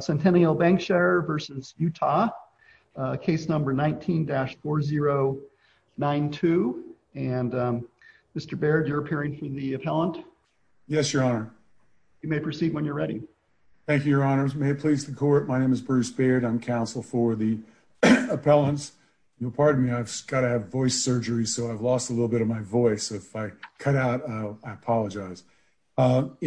Centennial Bankshare versus Utah case number 19-4092 and Mr. Baird you're appearing from the appellant. Yes your honor. You may proceed when you're ready. Thank you your honors. May it please the court my name is Bruce Baird I'm counsel for the appellants. You'll pardon me I've got to have voice surgery so I've lost a cut out. I apologize. In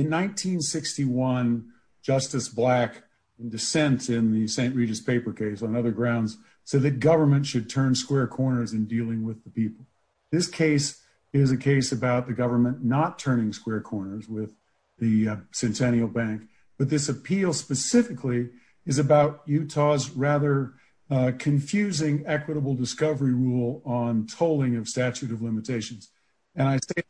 1961 Justice Black dissents in the St. Regis paper case on other grounds so the government should turn square corners in dealing with the people. This case is a case about the government not turning square corners with the Centennial Bank but this appeal specifically is about Utah's rather confusing equitable discovery rule on tolling of statute of limitations and I say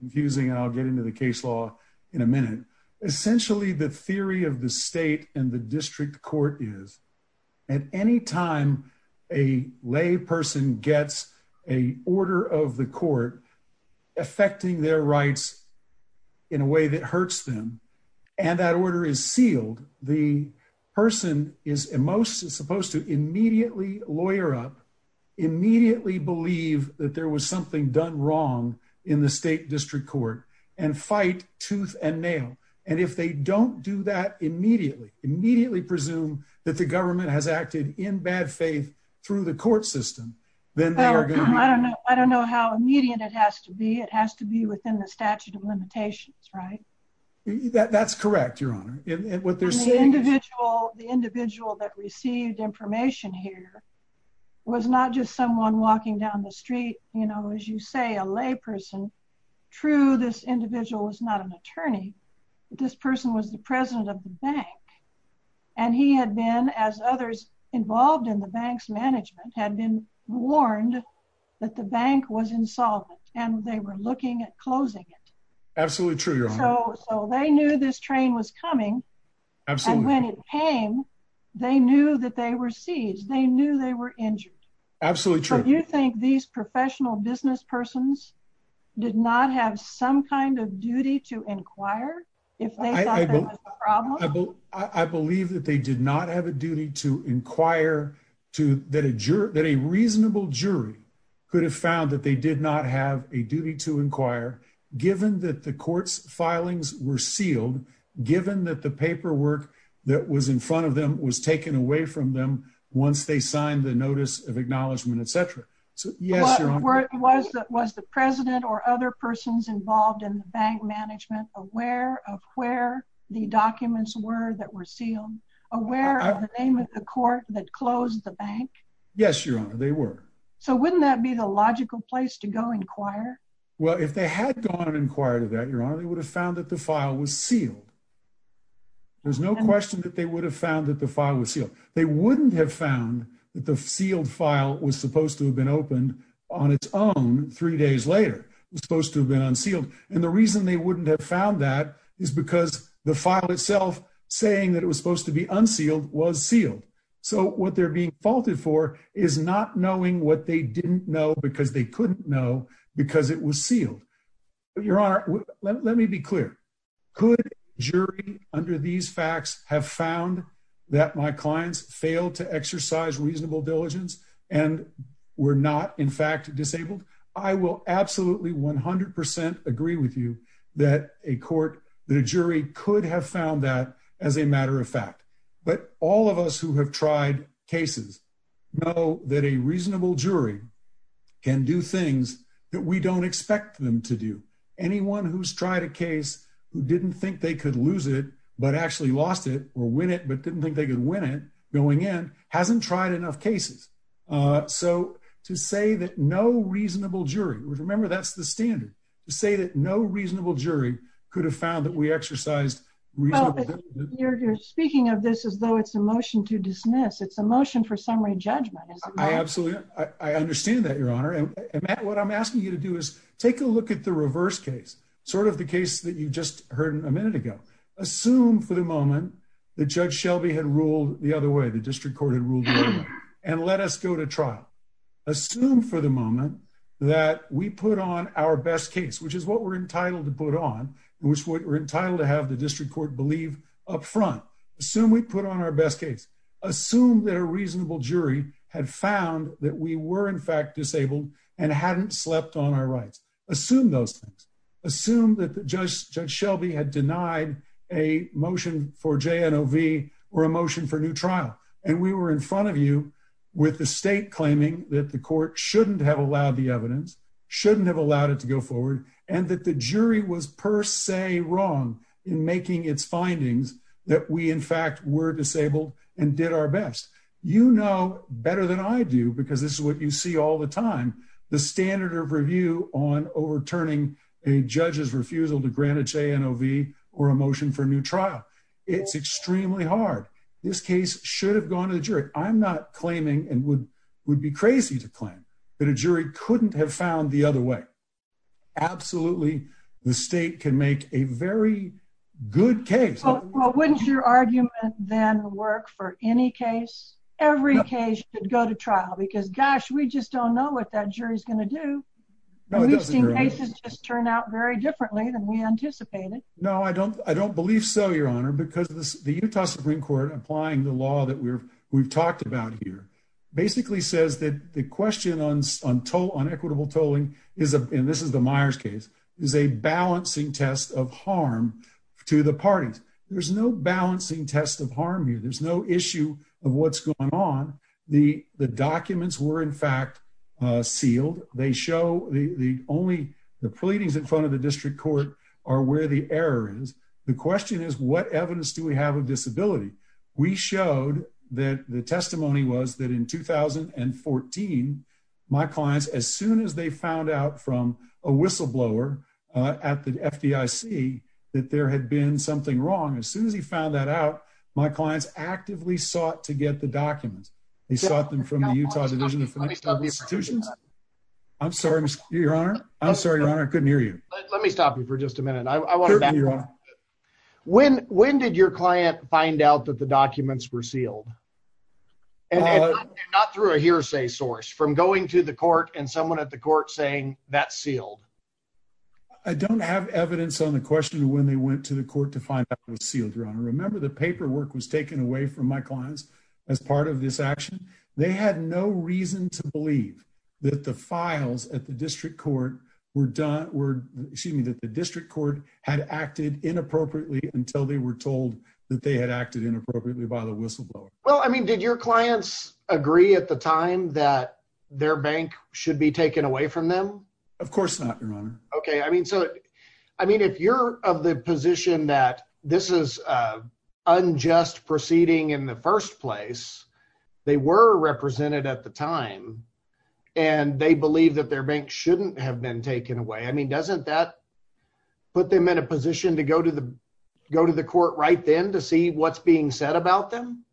confusing and I'll get into the case law in a minute. Essentially the theory of the state and the district court is at any time a lay person gets a order of the court affecting their rights in a way that hurts them and that order is sealed the person is most supposed to immediately lawyer up immediately believe that there was something done wrong in the state district court and fight tooth and nail and if they don't do that immediately immediately presume that the government has acted in bad faith through the court system then I don't know I don't know how immediate it has to be it has to be within the statute of limitations right that that's correct your honor and what they're saying individual the individual that received information here was not just someone walking down the street you know as you say a lay person true this individual was not an attorney this person was the president of the bank and he had been as others involved in the bank's management had been warned that the bank was insolvent and they were looking at closing it absolutely true so they knew this train was coming absolutely when it came they knew that they were seized they knew they were injured absolutely true you think these professional business persons did not have some kind of duty to inquire I believe that they did not have a duty to inquire to that a juror that a reasonable jury could have found that they did not have a duty to inquire given that the court's filings were sealed given that the paperwork that was in front of them was taken away from them once they signed the notice of acknowledgement etc so yes you're right was that was the president or other persons involved in the bank management aware of where the documents were that were sealed aware of the name of the court that closed the bank yes your honor they were so wouldn't that be the logical place to go inquire well if they had gone and inquired about your honor they would have found that the file was sealed there's no question that they would have found that the file was sealed they wouldn't have found that the sealed file was supposed to have been opened on its own three days later was supposed to have been unsealed and the reason they wouldn't have found that is because the file itself saying that it was supposed to be unsealed was sealed so what they're being faulted for is not knowing what they didn't know because they couldn't know because it was sealed but your honor let me be clear could jury under these facts have found that my clients failed to exercise reasonable diligence and we're not in fact disabled I will absolutely 100% agree with you that a court the jury could have found that as a matter of fact but all of us who have tried cases know that a reasonable jury can do things that we don't expect them to do anyone who's tried a case who didn't think they could lose it but actually lost it or win it but didn't think they could win it going in hasn't tried enough cases so to say that no reasonable jury would remember that's the standard to say that no reasonable jury could have found that we exercised you're speaking of this as though it's a motion to dismiss it's a motion for summary judgment absolutely I understand that your honor and what I'm asking you to do is take a look at the reverse case sort of the case that you just heard a minute ago assume for the moment that judge Shelby had ruled the other way the district court had ruled and let us go to trial assume for the moment that we put on our best case which is what we're entitled to put on which we're entitled to have the district court believe up front assume we put on our best case assume that a reasonable jury had found that we were in fact disabled and hadn't slept on our rights assume those things assume that the judge Shelby had denied a motion for J. N. O. V. or a motion for new trial and we were in front of you with the state claiming that the court shouldn't have allowed the evidence shouldn't have allowed it to go forward and that the jury was per se wrong in making its findings that we in fact were disabled and did our best you know better than I do because this is what you see all the time the standard of review on overturning a judge's refusal to grant a J. N. O. V. or a motion for new trial it's extremely hard this case should have gone to the jury I'm not claiming and would would be crazy to claim that a jury couldn't have found the other way absolutely the state can make a very good case well wouldn't your argument then work for any case every case should go to trial because gosh we just don't know what that jury is going to do we've seen cases just turn out very differently than we anticipated no I don't I don't believe so your honor because this the Utah Supreme Court applying the law that we're we've talked about here basically says that the question on on toll on equitable tolling is a and this is the Myers case is a balancing test of harm to the parties there's no balancing test of harm you there's no issue of what's going on the the documents were in fact sealed they show the the only the pleadings in front of the district court are where the error is the question is what evidence do we have a disability we showed that the testimony was that in 2014 my clients as soon as they found out from a whistleblower at the FDIC that there had been something wrong as soon as he found that out my clients actively sought to get the documents they sought them from let me stop you for just a minute I want to know when when did your client find out that the documents were sealed and not through a hearsay source from going to the court and someone at the court saying that sealed I don't have evidence on the question when they went to the court to find that was sealed your honor remember the paperwork was taken away from my clients as part of this action they had no reason to believe that the files at the district court were done were excuse me that the district court had acted inappropriately until they were told that they had acted inappropriately by the whistleblower well I mean did your clients agree at the time that their bank should be taken away from them of course not your honor okay I mean so I mean if you're of the position that this is unjust proceeding in the first place they were represented at the time and they believe that their bank shouldn't have been taken away I mean doesn't that put them in a position to go to the go to the court right then to see what's being said about them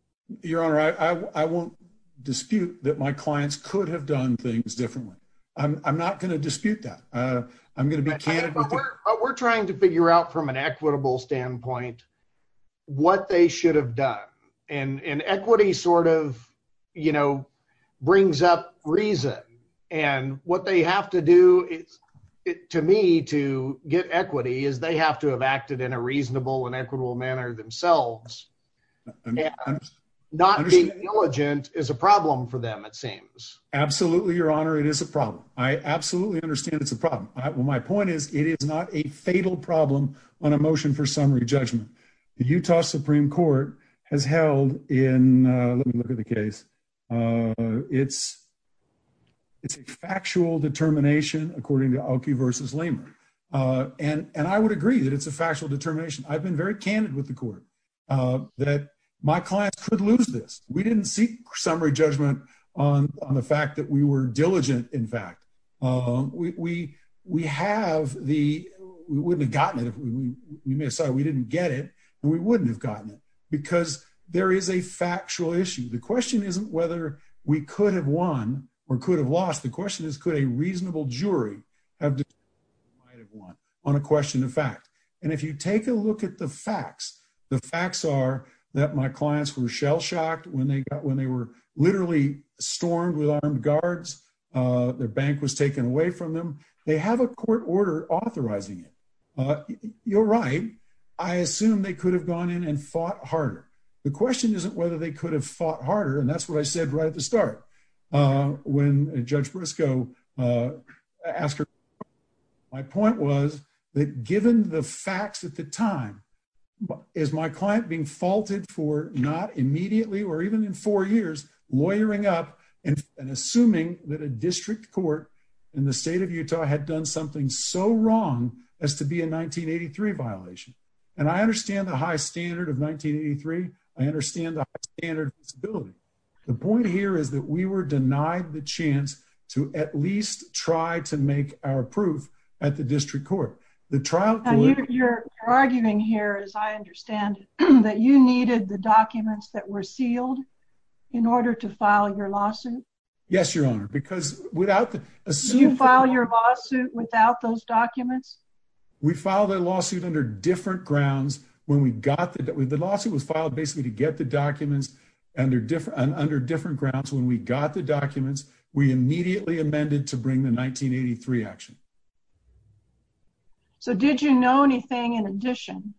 you're all right I won't dispute that my clients could have done things differently I'm not going to dispute that I'm going to be we're trying to figure out from an equitable standpoint what they should have done and equity sort of you know brings up reason and what they have to do to me to get equity is they have to have acted in a reasonable and equitable manner themselves not being diligent is a problem for them it seems absolutely your honor it is a problem I absolutely understand it's a problem well my point is it is not a fatal problem on a motion for summary judgment the Utah Supreme Court has held in look at the case it's it's a factual determination according to Alki versus Lamer and and I would agree that it's a factual determination I've been very candid with the court that my clients could lose this we didn't seek summary judgment on the fact that we were diligent in fact we we have the we would have gotten it if we miss I we didn't get it and we wouldn't have gotten it because there is a factual issue the question isn't whether we could have won or could have lost the question is could a reasonable jury have won on a question of fact and if you take a look at the facts the facts are that my clients were shell-shocked when they got when they were literally stormed with armed guards their bank was taken away from them they have a court order authorizing it you're right I assume they could have gone in and fought harder the question isn't whether they could have fought harder and that's what I said right at the start when Judge Briscoe ask her my point was that given the facts at the time but is my client being faulted for not immediately or even in four years lawyering up and assuming that a district court in the state of Utah had done something so wrong as to be a 1983 violation and I understand the high standard of 1983 I understand the standard visibility the point here is that we were denied the chance to at least try to make our proof at the district court the trial you're arguing here as I understand that you needed the documents that were sealed in order to file your lawsuit yes your honor because without the suit file your lawsuit without those documents we filed a lawsuit under different grounds when we got that with the lawsuit was filed basically to get the documents and they're different under different grounds when we got the documents we immediately amended to bring the 1983 action so did you know anything in addition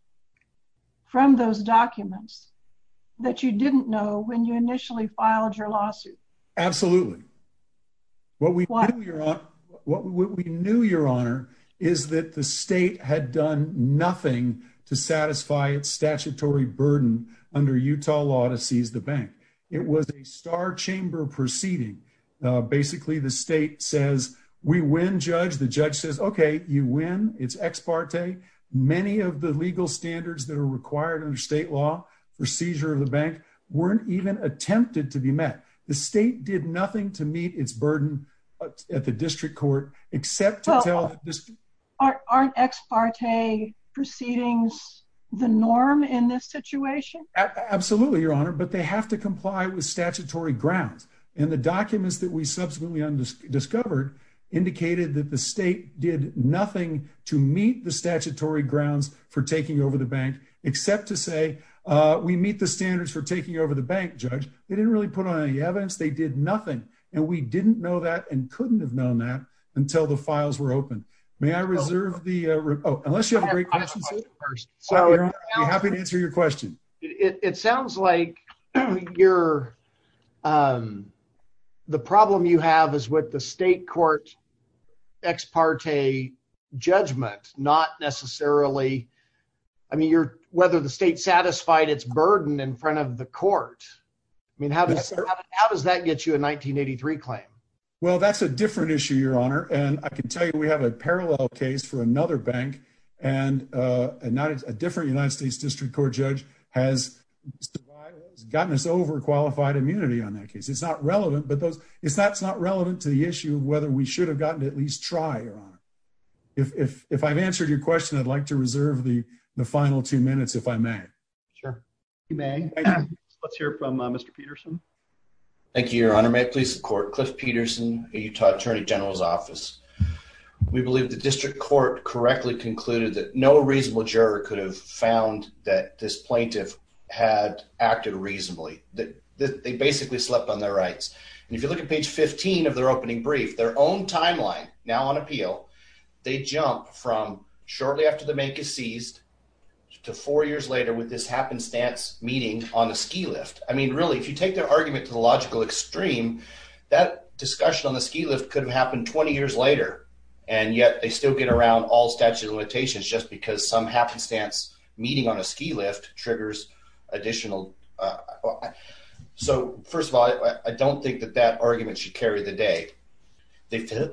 from those documents that you didn't know when you initially filed your lawsuit absolutely what we want to hear on what we knew your honor is that the state had done nothing to satisfy its statutory burden under Utah law to seize the bank it was a star chamber proceeding basically the state says we win judge the judge says okay you win it's ex parte many of the legal standards that are required under state law for seizure of the bank weren't even attempted to be met the state did nothing to meet its burden at the district court except to tell aren't ex absolutely your honor but they have to comply with statutory grounds and the documents that we subsequently undiscovered indicated that the state did nothing to meet the statutory grounds for taking over the bank except to say we meet the standards for taking over the bank judge they didn't really put on any evidence they did nothing and we didn't know that and couldn't have known that until the files were open may I reserve the unless you first so happy to answer your question it sounds like you're the problem you have is what the state court ex parte judgment not necessarily I mean you're whether the state satisfied its burden in front of the court I mean how does that get you a 1983 claim well that's a different issue your honor and I can tell you we have a parallel case for another bank and not a different United States District Court judge has gotten us over qualified immunity on that case it's not relevant but those it's that's not relevant to the issue whether we should have gotten at least try your honor if I've answered your question I'd like to reserve the the final two minutes if I may sure you may let's hear from mr. Peterson thank you your honor may please support Cliff Peterson a Utah Attorney General's office we believe the district court correctly concluded that no reasonable juror could have found that this plaintiff had acted reasonably that they basically slept on their rights and if you look at page 15 of their opening brief their own timeline now on appeal they jump from shortly after the bank is seized to four years later with this happenstance meeting on a ski lift I mean really if you take their argument to the logical extreme that discussion on the ski lift could have happened 20 years later and yet they still get around all statute of limitations just because some happenstance meeting on a ski lift triggers additional so first of all I don't think that that argument should carry the day they failed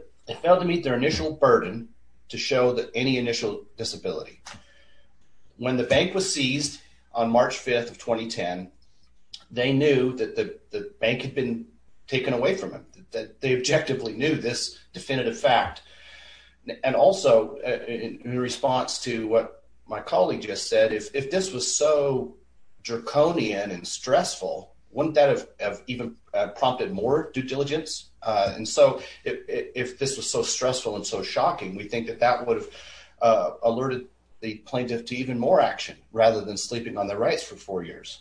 to meet their initial burden to show that any initial disability when the bank was seized on March 5th of 2010 they knew that the bank had been taken away from him that they objectively knew this definitive fact and also in response to what my colleague just said if this was so draconian and stressful wouldn't that have even prompted more due diligence and so if this was so stressful and so shocking we think that that would have alerted the plaintiff to even more action rather than sleeping on their rights for four years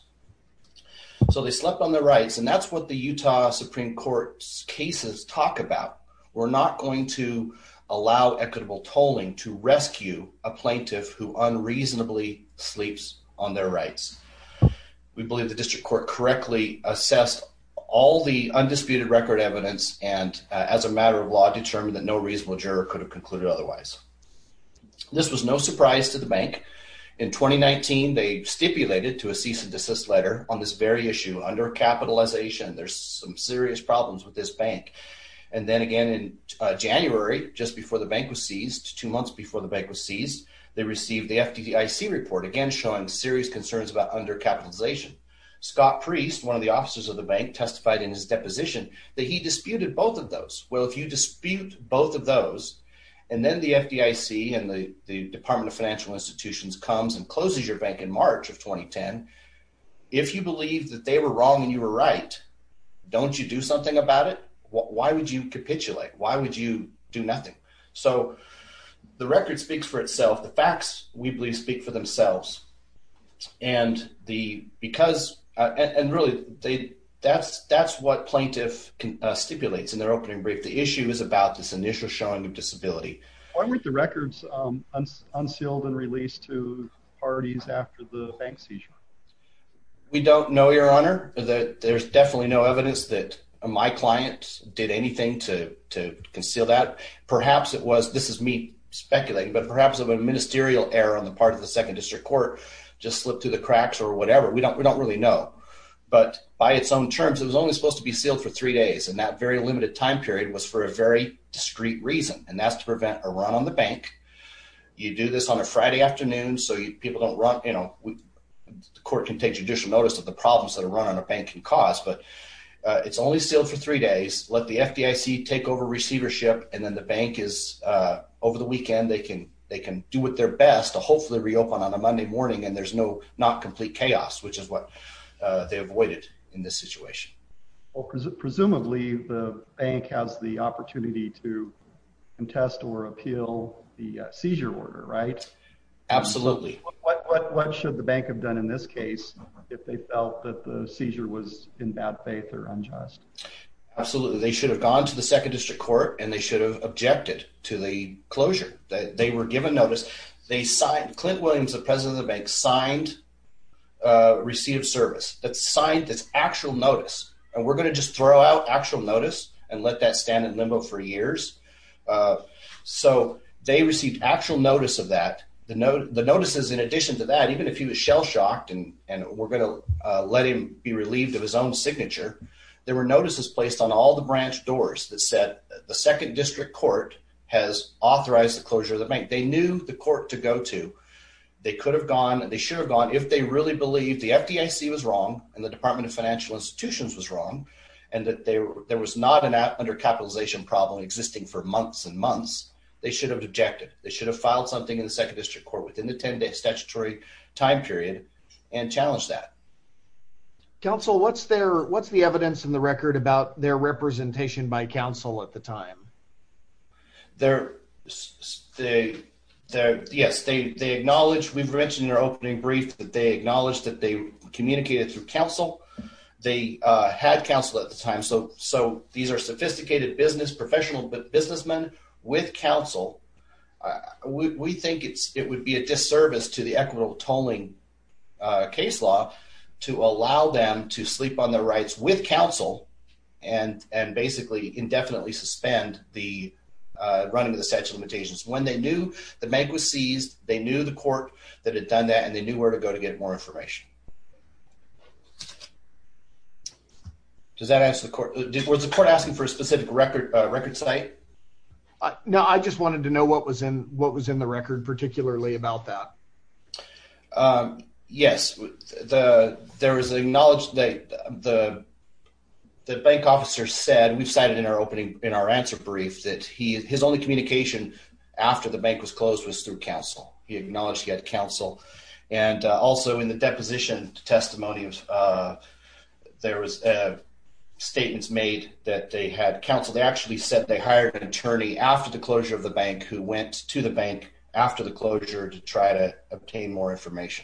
so they slept on their rights and that's what the Utah Supreme Court's cases talk about we're not going to allow equitable tolling to rescue a plaintiff who unreasonably sleeps on their rights we believe the district court correctly assessed all the undisputed record evidence and as a matter of law determined that no reasonable juror could have concluded otherwise this was no surprise to the bank in 2019 they stipulated to a cease-and-desist letter on this very issue under capitalization there's some serious problems with this bank and then again in January just before the bank was seized two months before the bank was seized they received the FDIC report again showing serious concerns about under capitalization Scott priest one of the officers of the bank testified in his deposition that he disputed both of those well if you dispute both of those and comes and closes your bank in March of 2010 if you believe that they were wrong and you were right don't you do something about it why would you capitulate why would you do nothing so the record speaks for itself the facts we believe speak for themselves and the because and really they that's that's what plaintiff can stipulates in their opening brief the issue is about this release to parties after the bank seizure we don't know your honor that there's definitely no evidence that my client did anything to conceal that perhaps it was this is me speculating but perhaps of a ministerial error on the part of the second district court just slipped through the cracks or whatever we don't we don't really know but by its own terms it was only supposed to be sealed for three days and that very limited time period was for a very discreet reason and that's you do this on a Friday afternoon so you people don't run you know the court can take judicial notice of the problems that are run on a bank and cause but it's only sealed for three days let the FDIC take over receivership and then the bank is over the weekend they can they can do what their best to hopefully reopen on a Monday morning and there's no not complete chaos which is what in this situation well presumably the bank has the opportunity to contest or appeal the seizure order right absolutely what should the bank have done in this case if they felt that the seizure was in bad faith or unjust absolutely they should have gone to the second district court and they should have objected to the closure that they were given notice they signed Clint Williams the scientists actual notice and we're gonna just throw out actual notice and let that stand in limbo for years so they received actual notice of that the note the notices in addition to that even if he was shell-shocked and and we're gonna let him be relieved of his own signature there were notices placed on all the branch doors that said the second district court has authorized the closure of the bank they knew the court to go to they could have gone and they should have gone if they really believe the FDIC was wrong and the Department of Financial Institutions was wrong and that there was not an app under capitalization problem existing for months and months they should have objected they should have filed something in the second district court within the 10-day statutory time period and challenged that counsel what's there what's the evidence in the record about their representation by counsel at the time there they there yes they acknowledge we've mentioned your opening brief that they acknowledge that they communicated through counsel they had counsel at the time so so these are sophisticated business professional but businessmen with counsel we think it's it would be a disservice to the equitable tolling case law to allow them to sleep on their rights with counsel and and basically indefinitely suspend the running of limitations when they knew the bank was seized they knew the court that had done that and they knew where to go to get more information does that answer the court did was the court asking for a specific record record site no I just wanted to know what was in what was in the record particularly about that yes the there was acknowledged that the bank officer said we've only communication after the bank was closed was through counsel he acknowledged he had counsel and also in the deposition testimonies there was a statements made that they had counsel they actually said they hired an attorney after the closure of the bank who went to the bank after the closure to try to obtain more information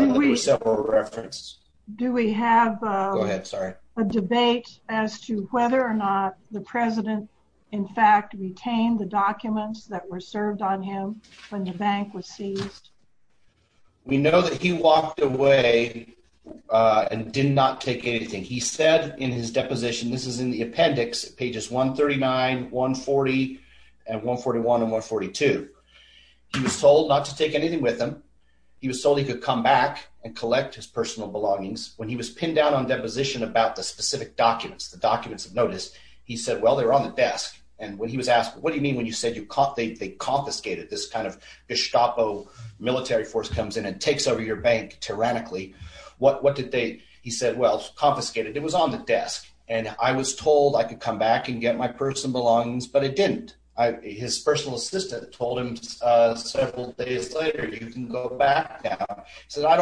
we reference do we have a debate as to whether or not the president in fact retained the documents that were served on him when the bank was seized we know that he walked away and did not take anything he said in his deposition this is in the appendix pages 139 140 and 141 and 142 he was told not to take anything with him he was told he could come back and collect his personal belongings when he was pinned down on deposition about the specific documents the documents of notice he said well they're on the desk and when he was asked what do you mean when you said you caught they confiscated this kind of Gestapo military force comes in and takes over your bank tyrannically what what did they he said well confiscated it was on the desk and I was told I could come back and get my personal belongings but it didn't I his personal assistant told him so I don't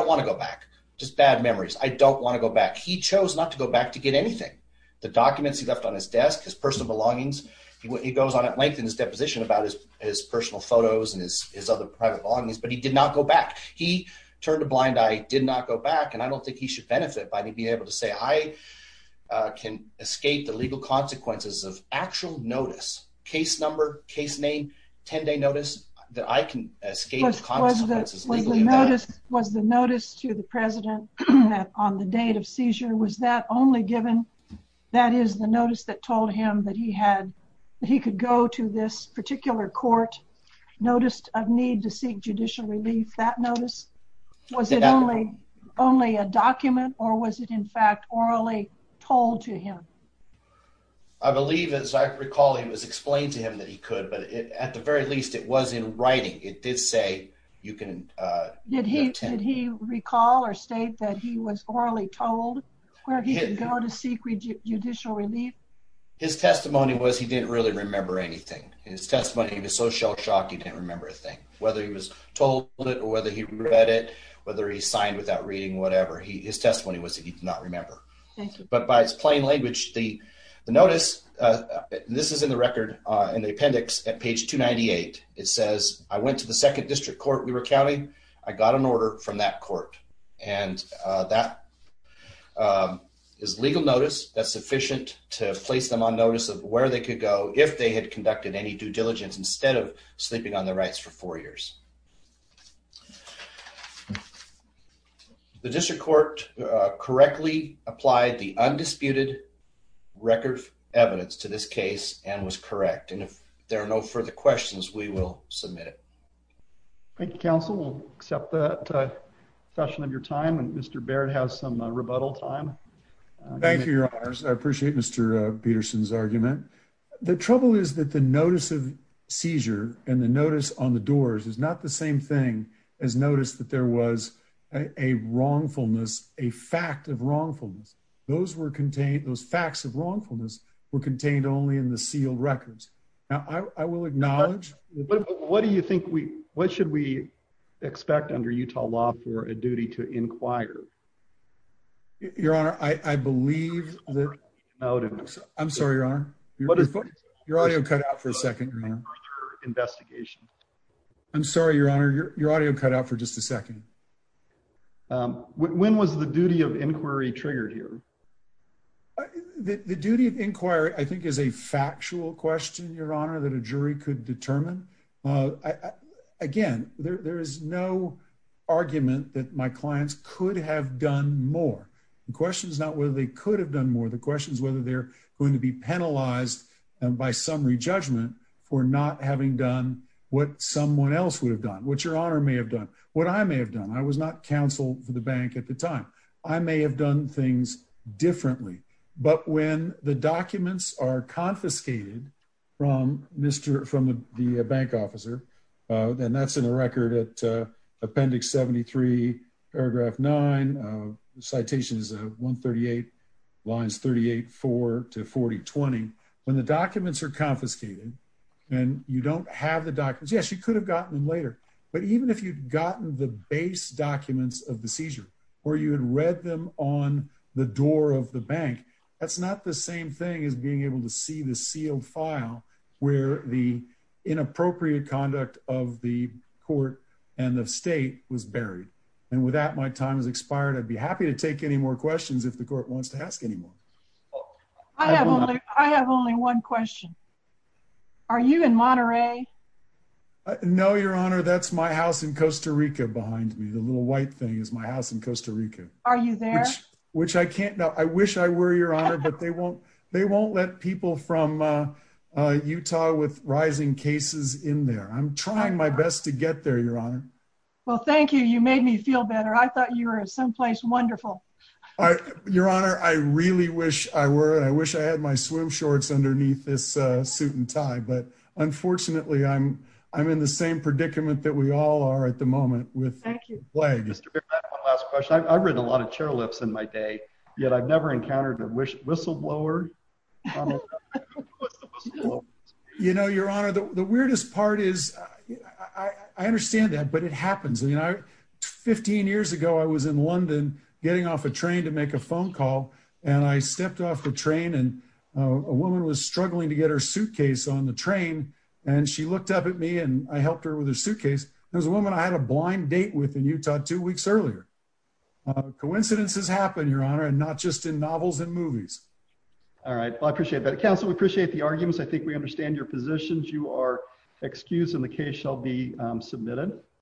want to go back just bad memories I don't want to go back he chose not to go back to get anything the documents he left on his desk his personal belongings he goes on at length in his deposition about his personal photos and his other private belongings but he did not go back he turned a blind eye did not go back and I don't think he should benefit by me being able to say I can escape the legal consequences of actual notice case number case name 10-day notice that I can escape was the notice was the notice to the seizure was that only given that is the notice that told him that he had he could go to this particular court noticed of need to seek judicial relief that notice was it only only a document or was it in fact orally told to him I believe as I recall he was explained to him that he could but at the very least it was in writing it did say you can did he did he recall or state that he was orally told where he didn't go to seek judicial relief his testimony was he didn't really remember anything his testimony was so shell-shocked he didn't remember a thing whether he was told it or whether he read it whether he signed without reading whatever he his testimony was he did not remember but by its plain language the notice this is in the record in the appendix at page 298 it says I went to the second district court we were counting I got an order from that court and that is legal notice that's sufficient to place them on notice of where they could go if they had conducted any due diligence instead of sleeping on their rights for four years the district court correctly applied the undisputed record evidence to this case and was correct and if there are no further questions we will submit it thank you counsel we'll accept that session of your time and Mr. Baird has some rebuttal time thank you your honors I appreciate Mr. Peterson's argument the trouble is that the notice of seizure and the notice on the doors is not the same thing as notice that there was a wrongfulness a fact of wrongfulness those were contained those facts of wrongfulness were contained only in the sealed records now I will acknowledge what do you think we what should we expect under Utah law for a duty to inquire your honor I I believe that I'm sorry your honor your audio cut out for a second investigation I'm sorry your honor your audio cut out for just a second um when was the duty of inquiry triggered here the duty of inquiry I think is a factual question your honor that a jury could determine uh again there there is no argument that my clients could have done more the question is not whether they could have done more the question is whether they're going to be penalized and by summary judgment for not having done what someone else would have done what your honor may have done what I may have done I was not counsel for the bank at the time I may have done things differently but when the documents are confiscated from Mr. from the bank officer uh then that's in a record at uh appendix 73 paragraph 9 uh citation is a 138 lines 38 4 to 40 20 when the documents are confiscated and you don't have the documents yes you could have gotten them later but even if you'd gotten the base documents of the seizure or you had read them on the door of the bank that's not the same thing as being able to see the sealed file where the inappropriate conduct of the court and the state was buried and with that my time has expired I'd be happy to take any more questions if the court wants to ask any more I have only I have only one question are you in Monterey no your honor that's my house in are you there which I can't know I wish I were your honor but they won't they won't let people from uh Utah with rising cases in there I'm trying my best to get there your honor well thank you you made me feel better I thought you were someplace wonderful all right your honor I really wish I were I wish I had my swim shorts underneath this uh suit and tie but unfortunately I'm I'm in the same predicament that we all are at the moment with thank you one last question I've written a lot of chairlifts in my day yet I've never encountered a whistleblower you know your honor the weirdest part is I understand that but it happens you know 15 years ago I was in London getting off a train to make a phone call and I stepped off the train and a woman was struggling to get her suitcase on the train and she looked up at me and I helped her with her suitcase there's a woman I had a blind date with in Utah two weeks earlier coincidences happen your honor and not just in novels and movies all right well I appreciate that counsel we appreciate the arguments I think we understand your positions you are excused and the case shall be submitted